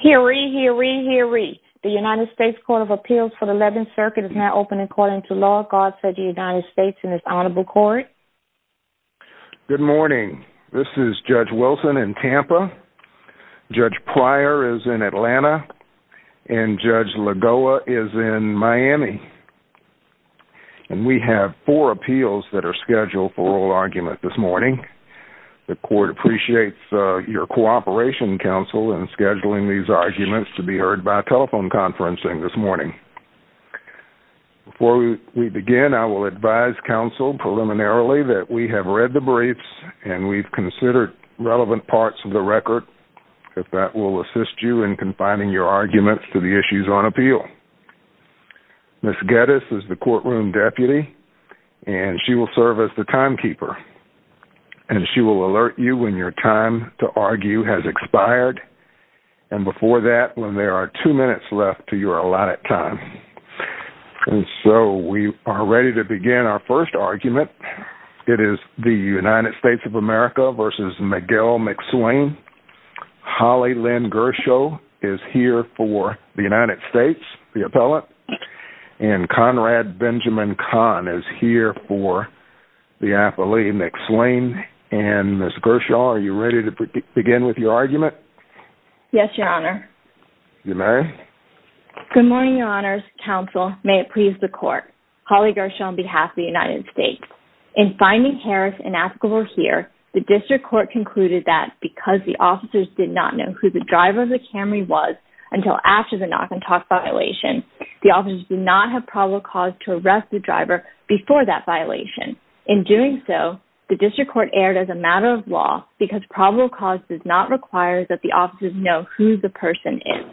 Hear ye, hear ye, hear ye. The United States Court of Appeals for the 11th Circuit is now open and calling to law. God said the United States in this honorable court. Good morning. This is Judge Wilson in Tampa, Judge Pryor is in Atlanta, and Judge Lagoa is in Miami. We have four appeals that are scheduled for oral argument this morning. The court appreciates your cooperation, counsel, in scheduling these arguments to be heard by telephone conferencing this morning. Before we begin, I will advise counsel preliminarily that we have read the briefs and we've considered relevant parts of the record. That will assist you in confining your arguments to the issues on appeal. Ms. Geddes is the courtroom deputy, and she will serve as the timekeeper. And she will alert you when your time to argue has expired, and before that, when there are two minutes left to your allotted time. And so, we are ready to begin our first argument. It is the United States of America v. Miguel McSwain. Holly Lynn Gershaw is here for the United States, the appellant. And Conrad Benjamin Kahn is here for the athlete, McSwain. And Ms. Gershaw, are you ready to begin with your argument? Yes, your honor. You may. Good morning, your honors. Counsel, may it please the court. Holly Gershaw on behalf of the United States. In finding Harris inescapable here, the district court concluded that because the officers did not know who the driver of the Camry was until after the knock-and-talk violation, the officers did not have probable cause to arrest the driver before that violation. In doing so, the district court erred as a matter of law because probable cause does not require that the officers know who the person is.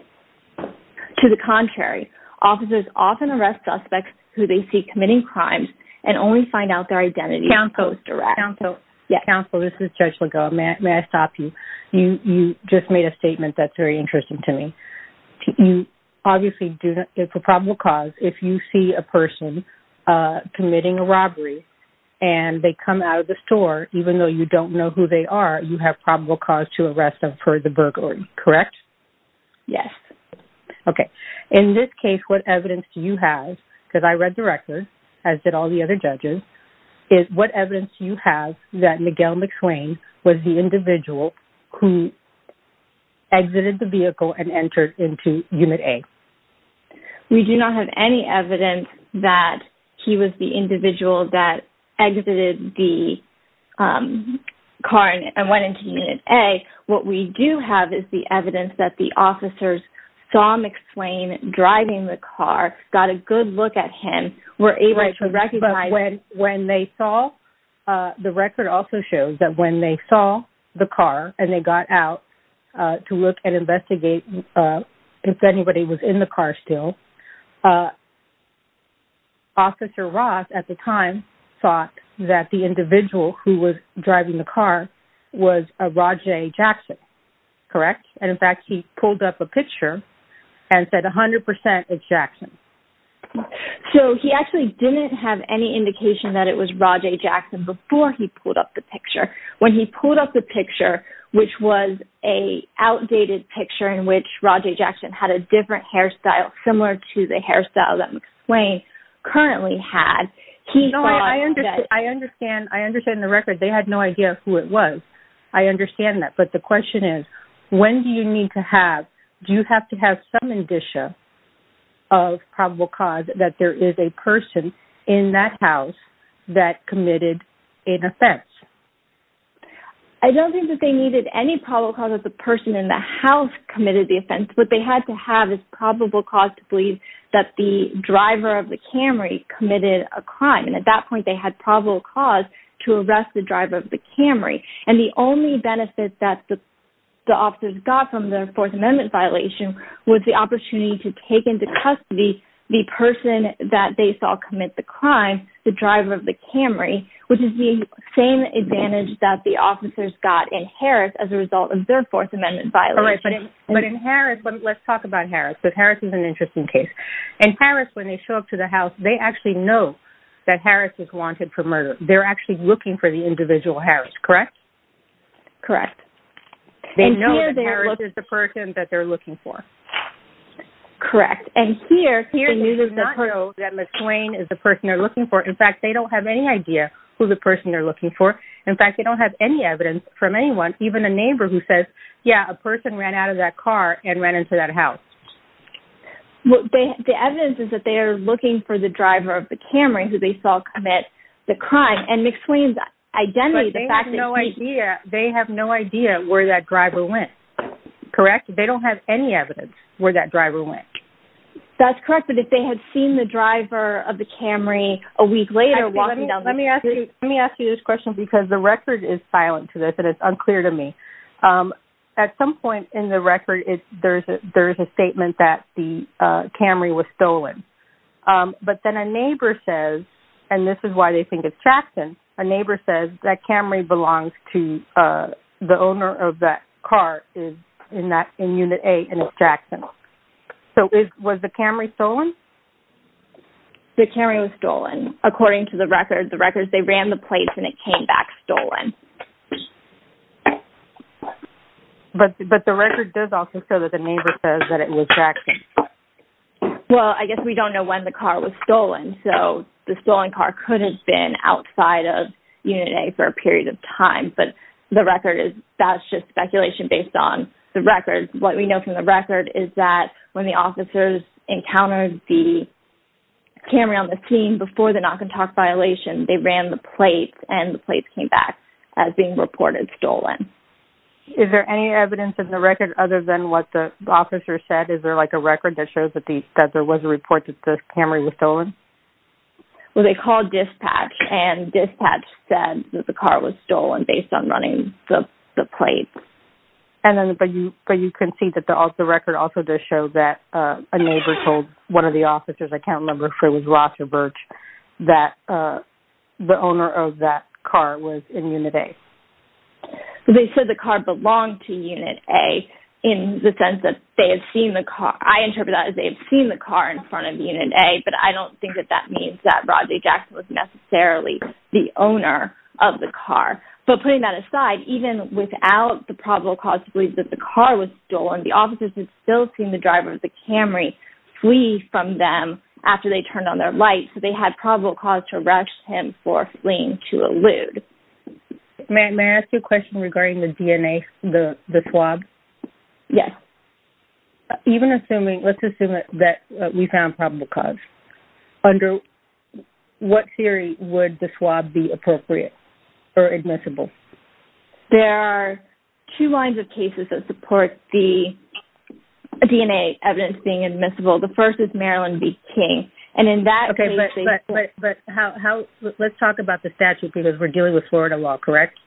To the contrary, officers often arrest suspects who they see committing crimes and only find out their identity. Counsel, this is Judge Legault. May I stop you? You just made a statement that's very interesting to me. You obviously do not give a probable cause if you see a person committing a robbery and they come out of the store, even though you don't know who they are, you have probable cause to arrest them for the burglary, correct? Yes. Okay. In this case, what evidence do you have, because I read the record, as did all the other judges, is what evidence do you have that Miguel McClain was the individual who exited the vehicle and entered into Unit A? We do not have any evidence that he was the individual that exited the car and went into Unit A. What we do have is the evidence that the officers saw McClain driving the car, got a good look at him, were able to recognize him. The record also shows that when they saw the car and they got out to look and investigate if anybody was in the car still, Officer Ross at the time thought that the individual who was driving the car was Rajay Jackson, correct? In fact, he pulled up a picture and said 100% it's Jackson. So he actually didn't have any indication that it was Rajay Jackson before he pulled up the picture. When he pulled up the picture, which was an outdated picture in which Rajay Jackson had a different hairstyle similar to the hairstyle that McClain currently had, he thought that... ...that there is a person in that house that committed an offense. I don't think that they needed any probable cause that the person in the house committed the offense. What they had to have is probable cause to believe that the driver of the Camry committed a crime. And at that point they had probable cause to arrest the driver of the Camry. And the only benefit that the officers got from their Fourth Amendment violation was the opportunity to take into custody the person that they saw commit the crime, the driver of the Camry, which is the same advantage that the officers got in Harris as a result of their Fourth Amendment violation. But in Harris, let's talk about Harris. Harris is an interesting case. In Harris, when they show up to the house, they actually know that Harris was wanted for murder. They're actually looking for the individual Harris, correct? Correct. They know that Harris is the person that they're looking for. Correct. And here, the news does not know that McClain is the person they're looking for. In fact, they don't have any idea who the person they're looking for. In fact, they don't have any evidence from anyone, even a neighbor who says, yeah, a person ran out of that car and ran into that house. The evidence is that they are looking for the driver of the Camry who they saw commit the crime and McClain's identity. But they have no idea. They have no idea where that driver went, correct? They don't have any evidence where that driver went. That's correct. But if they had seen the driver of the Camry a week later walking down the street. Let me ask you this question because the record is silent to this and it's unclear to me. At some point in the record, there's a statement that the Camry was stolen. But then a neighbor says, and this is why they think it's Jackson. A neighbor says that Camry belongs to the owner of that car in unit A and it's Jackson. So was the Camry stolen? The Camry was stolen. According to the record, they ran the place and it came back stolen. But the record does also show that the neighbor says that it was Jackson. Well, I guess we don't know when the car was stolen. So the stolen car could have been outside of unit A for a period of time. But the record is, that's just speculation based on the record. What we know from the record is that when the officers encountered the Camry on the scene before the knock and talk violation, they ran the place and the place came back as being reported stolen. Is there any evidence in the record other than what the officer said? Is there like a record that shows that there was a report that the Camry was stolen? Well, they called dispatch and dispatch said that the car was stolen based on running the place. But you can see that the record also does show that a neighbor told one of the officers, account number three was Roger Birch, that the owner of that car was in unit A. They said the car belonged to unit A in the sense that they have seen the car. I interpret that as they've seen the car in front of unit A, but I don't think that that means that Rodney Jackson was necessarily the owner of the car. But putting that aside, even without the probable cause to believe that the car was stolen, the officers had still seen the driver of the Camry flee from them after they turned on their lights, so they had probable cause to arrest him for fleeing to a lood. May I ask you a question regarding the DNA, the swab? Yes. Even assuming, let's assume that we found probable cause, under what theory would the swab be appropriate or admissible? There are two lines of cases that support the DNA evidence being admissible. The first is Maryland v. King, and in that case... Okay, but how, let's talk about the statute because we're dealing with Florida law, correct?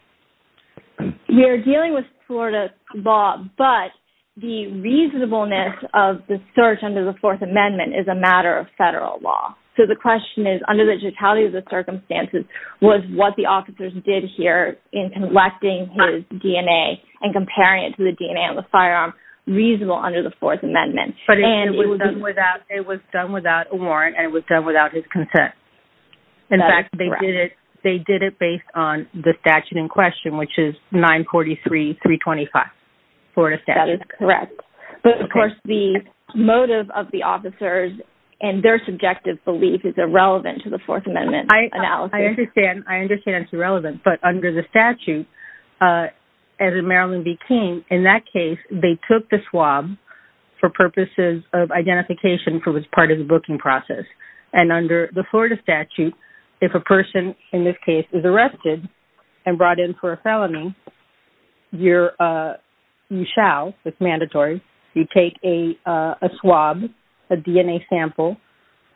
We're dealing with Florida law, but the reasonableness of the search under the Fourth Amendment is a matter of federal law. So the question is, under the totality of the circumstances, was what the officers did here in collecting his DNA and comparing it to the DNA on the firearm reasonable under the Fourth Amendment? But it was done without a warrant, and it was done without his consent. In fact, they did it based on the statute in question, which is 943.325, Florida statute. That is correct. But of course, the motive of the officers and their subjective belief is irrelevant to the Fourth Amendment analysis. I understand it's irrelevant, but under the statute, as in Maryland v. King, in that case, they took the swab for purposes of identification for which part of the booking process. And under the Florida statute, if a person in this case is arrested and brought in for a felony, you shall, it's mandatory, you take a swab, a DNA sample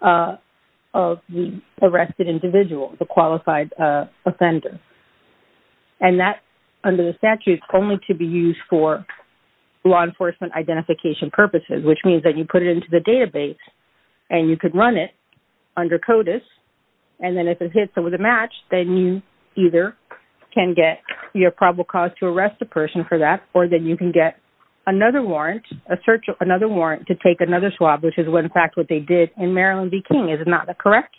of the arrested individual, the qualified offender. And that, under the statute, is only to be used for law enforcement identification purposes, which means that you put it into the database and you could run it under CODIS. And then if it hits and was a match, then you either can get your probable cause to arrest the person for that, or then you can get another warrant, a search, another warrant to take another swab, which is, in fact, what they did in Maryland v. King. Is that correct?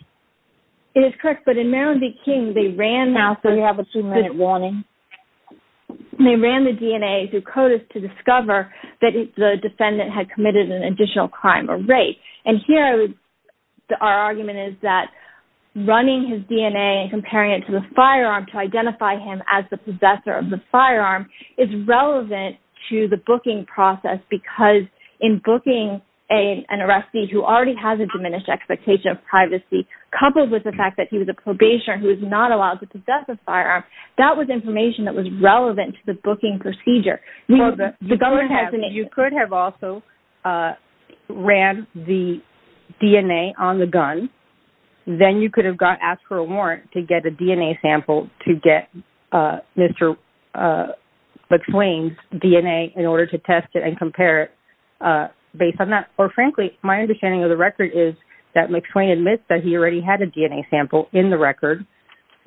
It is correct. But in Maryland v. King, they ran the... You have a two-minute warning. They ran the DNA through CODIS to discover that the defendant had committed an additional crime or rape. And here, our argument is that running his DNA and comparing it to the firearm to identify him as the possessor of the firearm is relevant to the booking process because in booking an arrestee who already has a diminished expectation of privacy, coupled with the fact that he was a probationer who is not allowed to possess a firearm, that was information that was relevant to the booking procedure. You could have also ran the DNA on the gun. Then you could have asked for a warrant to get a DNA sample to get Mr. McSwain's DNA in order to test it and compare it based on that. Or, frankly, my understanding of the record is that McSwain admits that he already had a DNA sample in the record,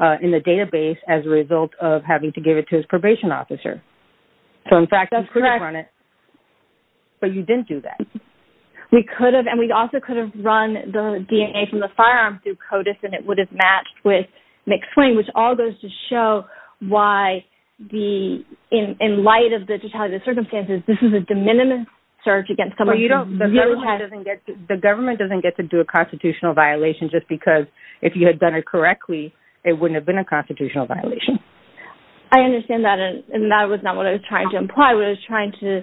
in the database, as a result of having to give it to his probation officer. So, in fact, you could have run it, but you didn't do that. We could have, and we also could have run the DNA from the firearm through CODIS and it would have matched with McSwain, which all goes to show why, in light of the circumstances, this is a de minimis search against someone... The government doesn't get to do a constitutional violation just because if you had done it correctly, it wouldn't have been a constitutional violation. I understand that, and that was not what I was trying to imply. What I was trying to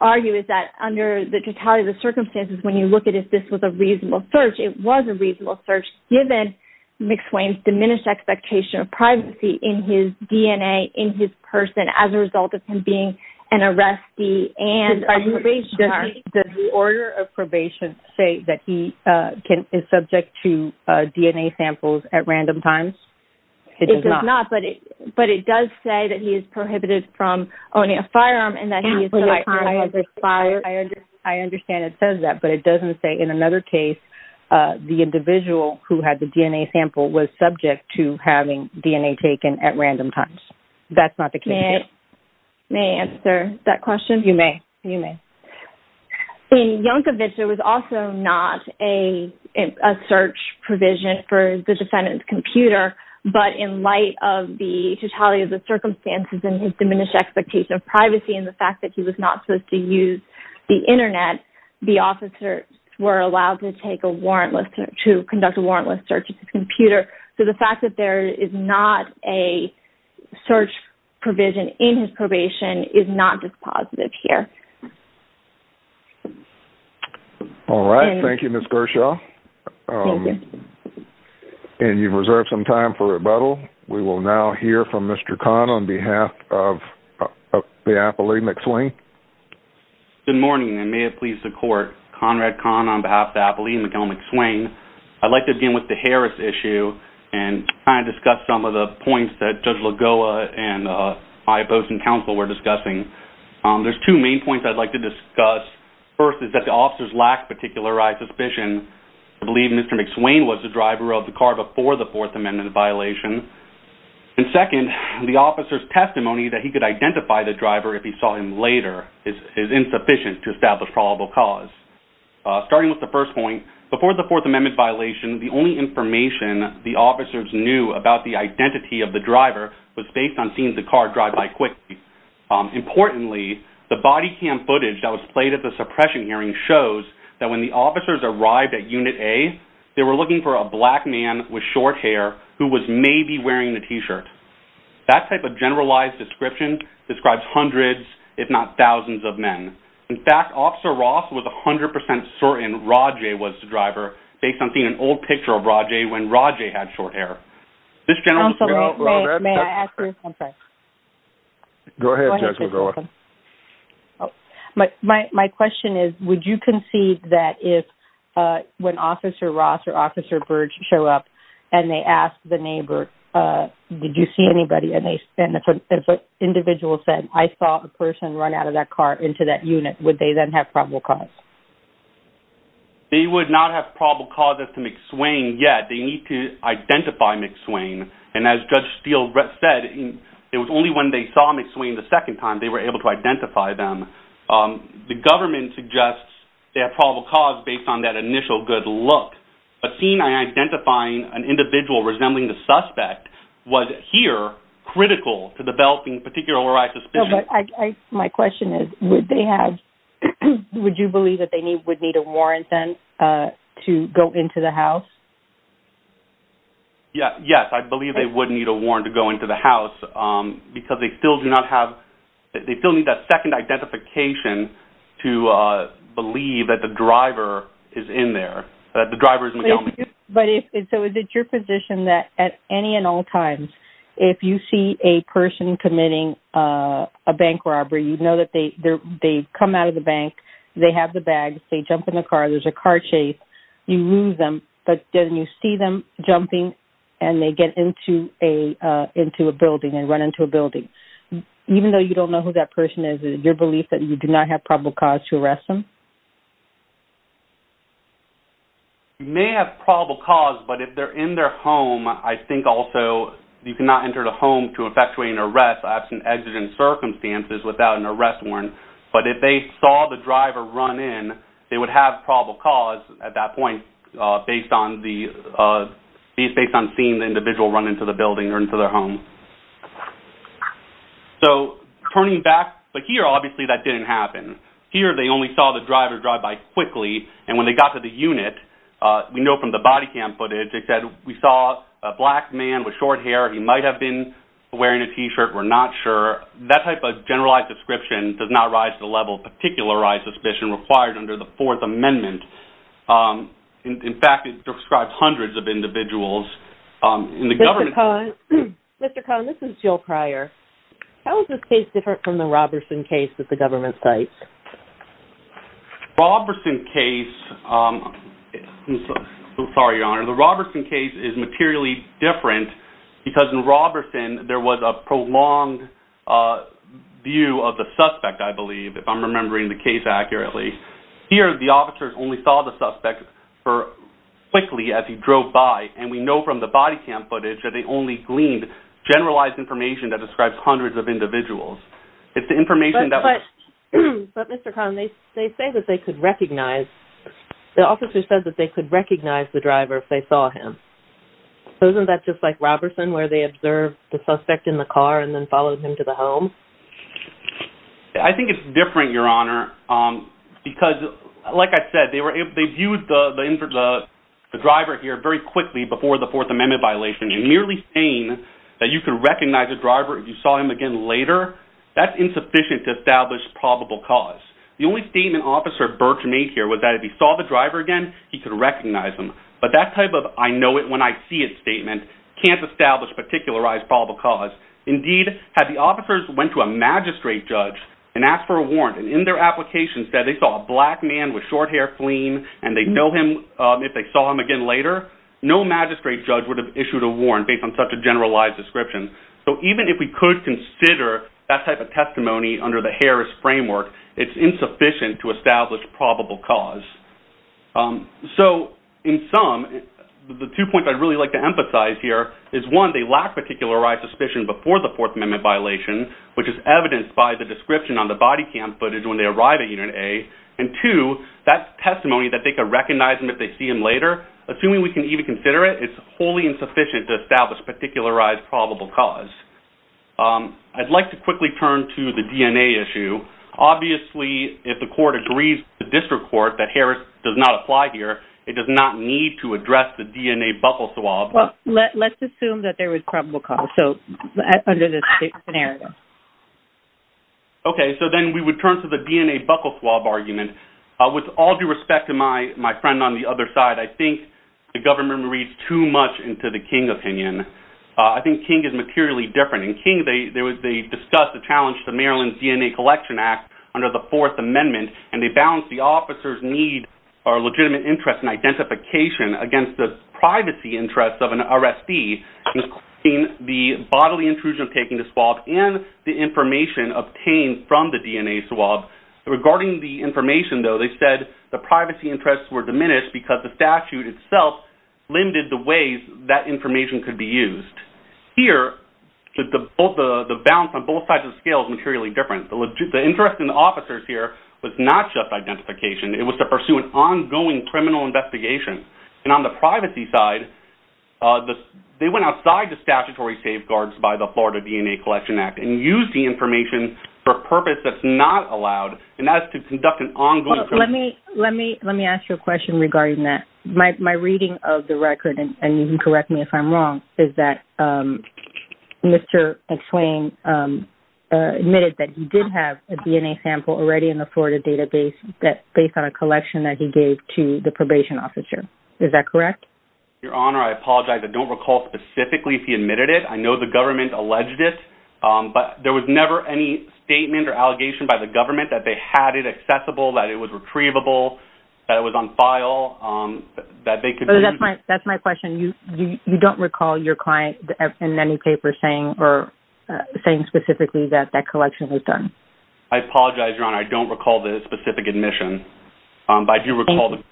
argue is that, under the totality of the circumstances, when you look at if this was a reasonable search, it was a reasonable search, given McSwain's diminished expectation of privacy in his DNA, in his person, as a result of him being an arrestee and a probation officer. Does the order of probation say that he is subject to DNA samples at random times? It does not, but it does say that he is prohibited from owning a firearm and that he is... I understand it says that, but it doesn't say, in another case, the individual who had the DNA sample was subject to having DNA taken at random times. That's not the case. May I answer that question? You may. In Jankovic, there was also not a search provision for the defendant's computer, but in light of the totality of the circumstances and his diminished expectation of privacy and the fact that he was not supposed to use the Internet, the officers were allowed to conduct a warrantless search of his computer. So the fact that there is not a search provision in his probation is not just positive here. All right. Thank you, Ms. Gershaw. Thank you. And you've reserved some time for rebuttal. We will now hear from Mr. Kahn on behalf of the appellee, McSwain. Good morning, and may it please the Court. Conrad Kahn on behalf of the appellee, Miguel McSwain. I'd like to begin with the Harris issue and kind of discuss some of the points that Judge Lagoa and my opposing counsel were discussing. There's two main points I'd like to discuss. First is that the officers lack particularized suspicion to believe Mr. McSwain was the driver of the car before the Fourth Amendment violation. And second, the officer's testimony that he could identify the driver if he saw him later is insufficient to establish probable cause. Starting with the first point, before the Fourth Amendment violation, the only information the officers knew about the identity of the driver was based on seeing the car drive by quickly. Importantly, the body cam footage that was played at the suppression hearing shows that when the officers arrived at Unit A, they were looking for a black man with short hair who was maybe wearing a T-shirt. That type of generalized description describes hundreds, if not thousands, of men. In fact, Officer Ross was 100% certain Rajay was the driver based on seeing an old picture of Rajay when Rajay had short hair. This gentleman... Counsel, may I ask you something? Go ahead, Judge Lagoa. My question is, would you concede that when Officer Ross or Officer Burge show up and they ask the neighbor, did you see anybody? And if an individual said, I saw a person run out of that car into that unit, would they then have probable cause? They would not have probable cause as to McSwain yet. They need to identify McSwain. And as Judge Steele said, it was only when they saw McSwain the second time they were able to identify them. The government suggests they have probable cause based on that initial good look. But seeing and identifying an individual resembling the suspect was, here, critical to developing particular override suspicion. My question is, would they have... Would you believe that they would need a warrant then to go into the house? Yes. I believe they would need a warrant to go into the house because they still do not have... to believe that the driver is in there, that the driver is in the building. But if... So is it your position that at any and all times, if you see a person committing a bank robbery, you know that they come out of the bank, they have the bags, they jump in the car, there's a car chase, you lose them. But then you see them jumping and they get into a building and run into a building. Even though you don't know who that person is, is it your belief that you do not have probable cause to arrest them? You may have probable cause, but if they're in their home, I think also you cannot enter the home to effectuate an arrest absent exigent circumstances without an arrest warrant. But if they saw the driver run in, they would have probable cause at that point based on the... based on seeing the individual run into the building or into their home. So turning back... But here, obviously, that didn't happen. Here, they only saw the driver drive by quickly. And when they got to the unit, we know from the body cam footage, they said, we saw a black man with short hair. He might have been wearing a T-shirt. We're not sure. That type of generalized description does not rise to the level of particularized suspicion required under the Fourth Amendment. In fact, it describes hundreds of individuals in the government... Mr. Cohn, this is Jill Cryer. How is this case different from the Roberson case that the government cites? Roberson case... I'm sorry, Your Honor. The Roberson case is materially different because in Roberson, there was a prolonged view of the suspect, I believe, if I'm remembering the case accurately. Here, the officers only saw the suspect quickly as he drove by. And we know from the body cam footage that they only gleaned generalized information that describes hundreds of individuals. It's the information that... But, Mr. Cohn, they say that they could recognize... The officers said that they could recognize the driver if they saw him. So isn't that just like Roberson, where they observed the suspect in the car and then followed him to the home? I think it's different, Your Honor, because, like I said, they viewed the driver here very quickly before the Fourth Amendment violation. And merely saying that you could recognize the driver if you saw him again later, that's insufficient to establish probable cause. The only statement Officer Birch made here was that if he saw the driver again, he could recognize him. But that type of I-know-it-when-I-see-it statement can't establish particularized probable cause. Indeed, had the officers went to a magistrate judge and asked for a warrant, and in their application said they saw a black man with short hair fleeing and they'd know him if they saw him again later, no magistrate judge would have issued a warrant based on such a generalized description. So even if we could consider that type of testimony under the Harris framework, it's insufficient to establish probable cause. So, in sum, the two points I'd really like to emphasize here is, one, they lack particularized suspicion before the Fourth Amendment violation, which is evidenced by the description on the body cam footage when they arrive at Unit A. And two, that testimony that they could recognize him if they see him later, assuming we can even consider it, it's wholly insufficient to establish particularized probable cause. I'd like to quickly turn to the DNA issue. Obviously, if the court agrees with the district court that Harris does not apply here, it does not need to address the DNA buckle swab. Well, let's assume that there was probable cause, so, under this scenario. Okay, so then we would turn to the DNA buckle swab argument. With all due respect to my friend on the other side, I think the government reads too much into the King opinion. I think King is materially different. In King, they discussed the challenge to Maryland's DNA Collection Act under the Fourth Amendment, and they balanced the officers' need or legitimate interest in identification against the privacy interests of an RSD, including the bodily intrusion of taking the swab and the information obtained from the DNA swab. Regarding the information, though, they said the privacy interests were diminished because the statute itself limited the ways that information could be used. Here, the balance on both sides of the scale is materially different. The interest in the officers here was not just identification. It was to pursue an ongoing criminal investigation. And on the privacy side, they went outside the statutory safeguards by the Florida DNA Collection Act and used the information for a purpose that's not allowed, and that is to conduct an ongoing criminal investigation. Let me ask you a question regarding that. My reading of the record, and you can correct me if I'm wrong, is that Mr. McSwain admitted that he did have a DNA sample already in the Florida database based on a collection that he gave to the probation officer. Is that correct? Your Honor, I apologize. I don't recall specifically if he admitted it. I know the government alleged it, but there was never any statement or allegation by the government that they had it accessible, that it was retrievable, that it was on file, that they could use it. That's my question. You don't recall your client in any paper saying specifically that that collection was done? I apologize, Your Honor. I don't recall the specific admission, but I do recall the government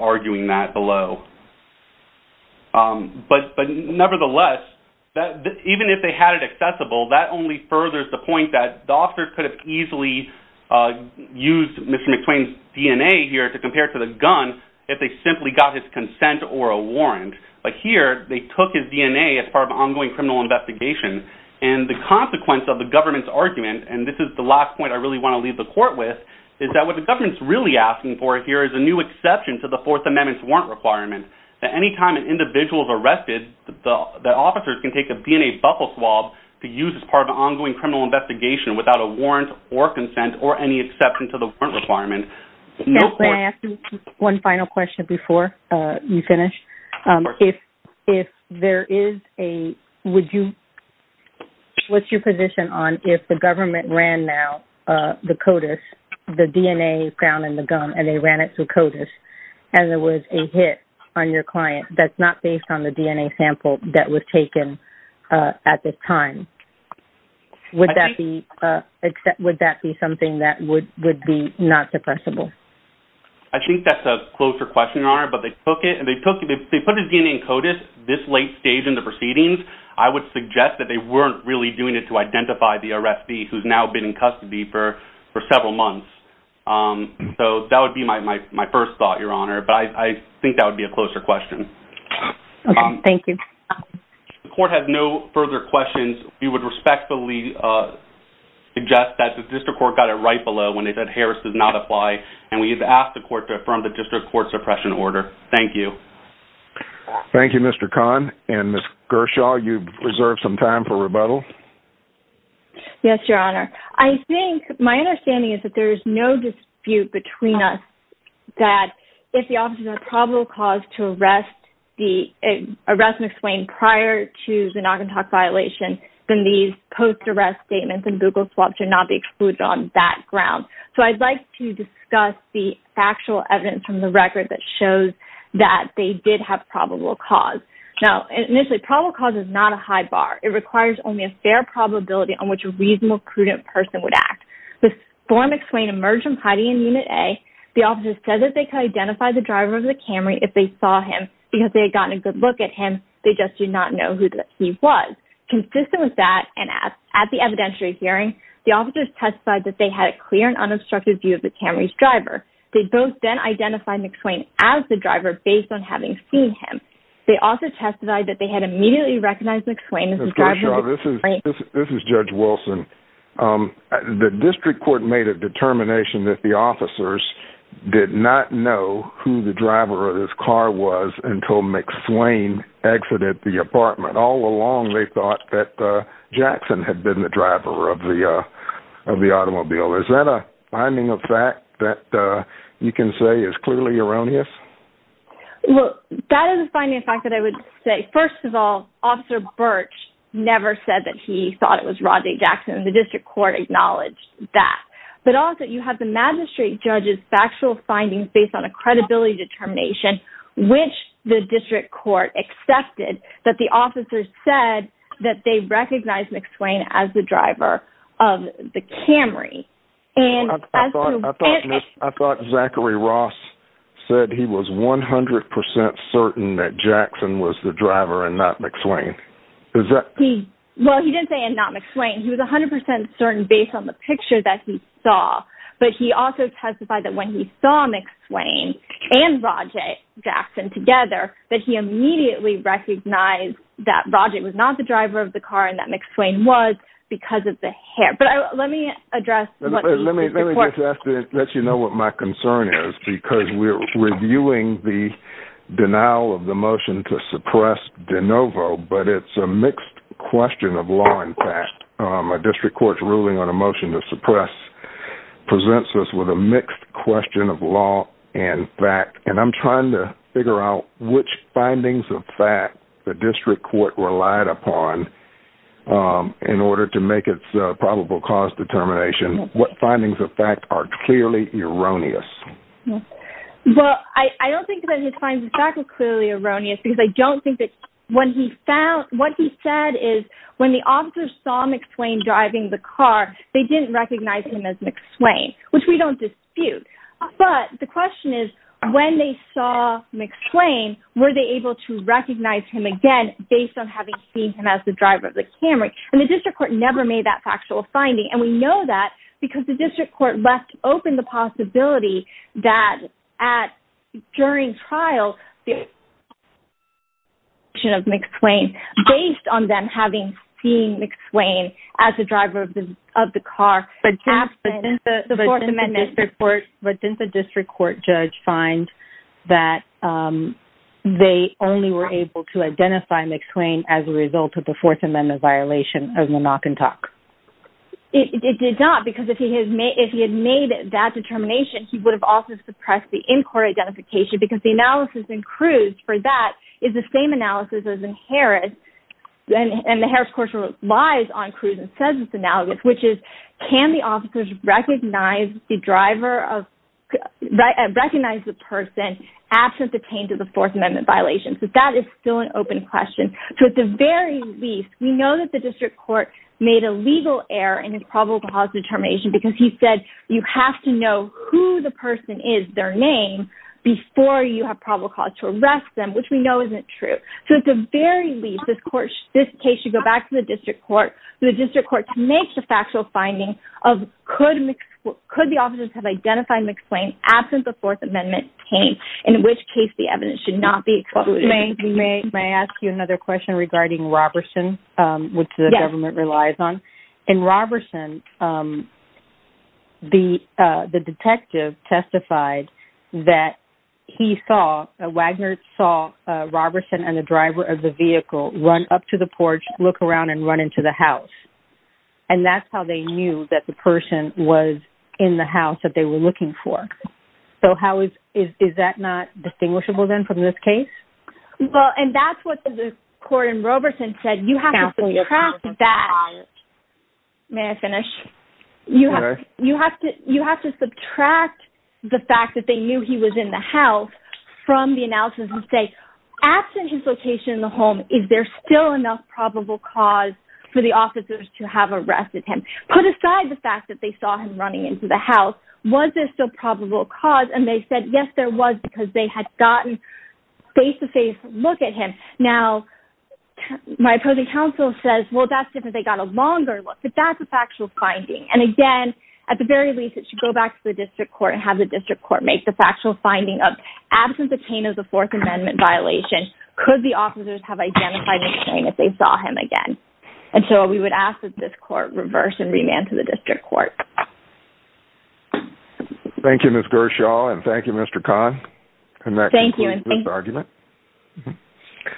arguing that below. But nevertheless, even if they had it accessible, that only furthers the point that the officer could have easily used Mr. McSwain's DNA here to compare to the gun if they simply got his consent or a warrant. But here, they took his DNA as part of an ongoing criminal investigation, and the consequence of the government's argument, and this is the last point I really want to leave the court with, is that what the government's really asking for here is a new exception to the Fourth Amendment's warrant requirement, that any time an individual is arrested, the officers can take a DNA buffer swab to use as part of an ongoing criminal investigation without a warrant or consent or any exception to the warrant requirement. Can I ask you one final question before you finish? Of course. If there is a – would you – what's your position on if the government ran now the CODIS, the DNA found in the gun, and they ran it through CODIS, and there was a hit on your client that's not based on the DNA sample that was taken at this time, would that be something that would be not suppressible? I think that's a closer question, Your Honor, but they took it – if they put his DNA in CODIS this late stage in the proceedings, I would suggest that they weren't really doing it to identify the arrestee who's now been in custody for several months. So that would be my first thought, Your Honor, but I think that would be a closer question. Okay. Thank you. The court has no further questions. We would respectfully suggest that the district court got it right below when they said Harris does not apply, and we have asked the court to affirm the district court suppression order. Thank you. Thank you, Mr. Kahn. And Ms. Gershaw, you've reserved some time for rebuttal. Yes, Your Honor. I think – my understanding is that there is no dispute between us that if the officers have probable cause to arrest McSwain prior to the knock-and-talk violation, then these post-arrest statements and Google swaps should not be excluded on that ground. So I'd like to discuss the factual evidence from the record that shows that they did have probable cause. Now, initially, probable cause is not a high bar. It requires only a fair probability on which a reasonable, prudent person would act. Before McSwain emerged from hiding in Unit A, the officers said that they could identify the driver of the Camry if they saw him because they had gotten a good look at him, they just did not know who he was. Consistent with that, and at the evidentiary hearing, the officers testified that they had a clear and unobstructed view of the Camry's driver. They both then identified McSwain as the driver based on having seen him. They also testified that they had immediately recognized McSwain as the driver of the Camry. This is Judge Wilson. The district court made a determination that the officers did not know who the driver of this car was until McSwain exited the apartment. All along, they thought that Jackson had been the driver of the automobile. Is that a finding of fact that you can say is clearly erroneous? Well, that is a finding of fact that I would say. First of all, Officer Birch never said that he thought it was Rodney Jackson, and the district court acknowledged that. But also, you have the magistrate judge's factual findings based on a credibility determination, which the district court accepted that the officers said that they recognized McSwain as the driver of the Camry. I thought Zachary Ross said he was 100% certain that Jackson was the driver and not McSwain. Well, he didn't say and not McSwain. He was 100% certain based on the picture that he saw. But he also testified that when he saw McSwain and Rodney Jackson together, that he immediately recognized that Rodney was not the driver of the car and that McSwain was because of the hair. All right, but let me address what the district court. Let me just ask to let you know what my concern is because we're reviewing the denial of the motion to suppress De Novo, but it's a mixed question of law and fact. A district court's ruling on a motion to suppress presents us with a mixed question of law and fact, and I'm trying to figure out which findings of fact the district court relied upon in order to make its probable cause determination. What findings of fact are clearly erroneous? Well, I don't think that his findings of fact are clearly erroneous because I don't think that what he said is when the officers saw McSwain driving the car, they didn't recognize him as McSwain, which we don't dispute. But the question is when they saw McSwain, were they able to recognize him again based on having seen him as the driver of the Camry? And the district court never made that factual finding, and we know that because the district court left open the possibility that during trial, based on them having seen McSwain as the driver of the car, but didn't the district court judge find that they only were able to identify McSwain as a result of the Fourth Amendment violation of the knock and talk? It did not, because if he had made that determination, he would have also suppressed the in-court identification because the analysis in Cruz for that is the same analysis as in Harris, and the Harris court relies on Cruz and says it's analogous, which is can the officers recognize the person absent the change of the Fourth Amendment violation? So that is still an open question. So at the very least, we know that the district court made a legal error in his probable cause determination because he said you have to know who the person is, their name, before you have probable cause to arrest them, which we know isn't true. So at the very least, this case should go back to the district court. The district court makes the factual finding of could the officers have identified McSwain absent the Fourth Amendment change, in which case the evidence should not be excluded. We may ask you another question regarding Roberson, which the government relies on. In Roberson, the detective testified that Wagner saw Roberson and the driver of the vehicle run up to the porch, look around, and run into the house, and that's how they knew that the person was in the house that they were looking for. So is that not distinguishable, then, from this case? Well, and that's what the court in Roberson said. You have to subtract that. May I finish? You have to subtract the fact that they knew he was in the house from the analysis and say absent his location in the home, is there still enough probable cause for the officers to have arrested him? Put aside the fact that they saw him running into the house. Was there still probable cause? And they said, yes, there was, because they had gotten face-to-face look at him. Now, my opposing counsel says, well, that's different. They got a longer look. But that's a factual finding. And, again, at the very least, it should go back to the district court and have the district court make the factual finding of, absent the cane of the Fourth Amendment violation, could the officers have identified McSwain if they saw him again? And so we would ask that this court reverse and remand to the district court. Thank you, Ms. Gershaw, and thank you, Mr. Kahn. And that concludes this argument. Thank you.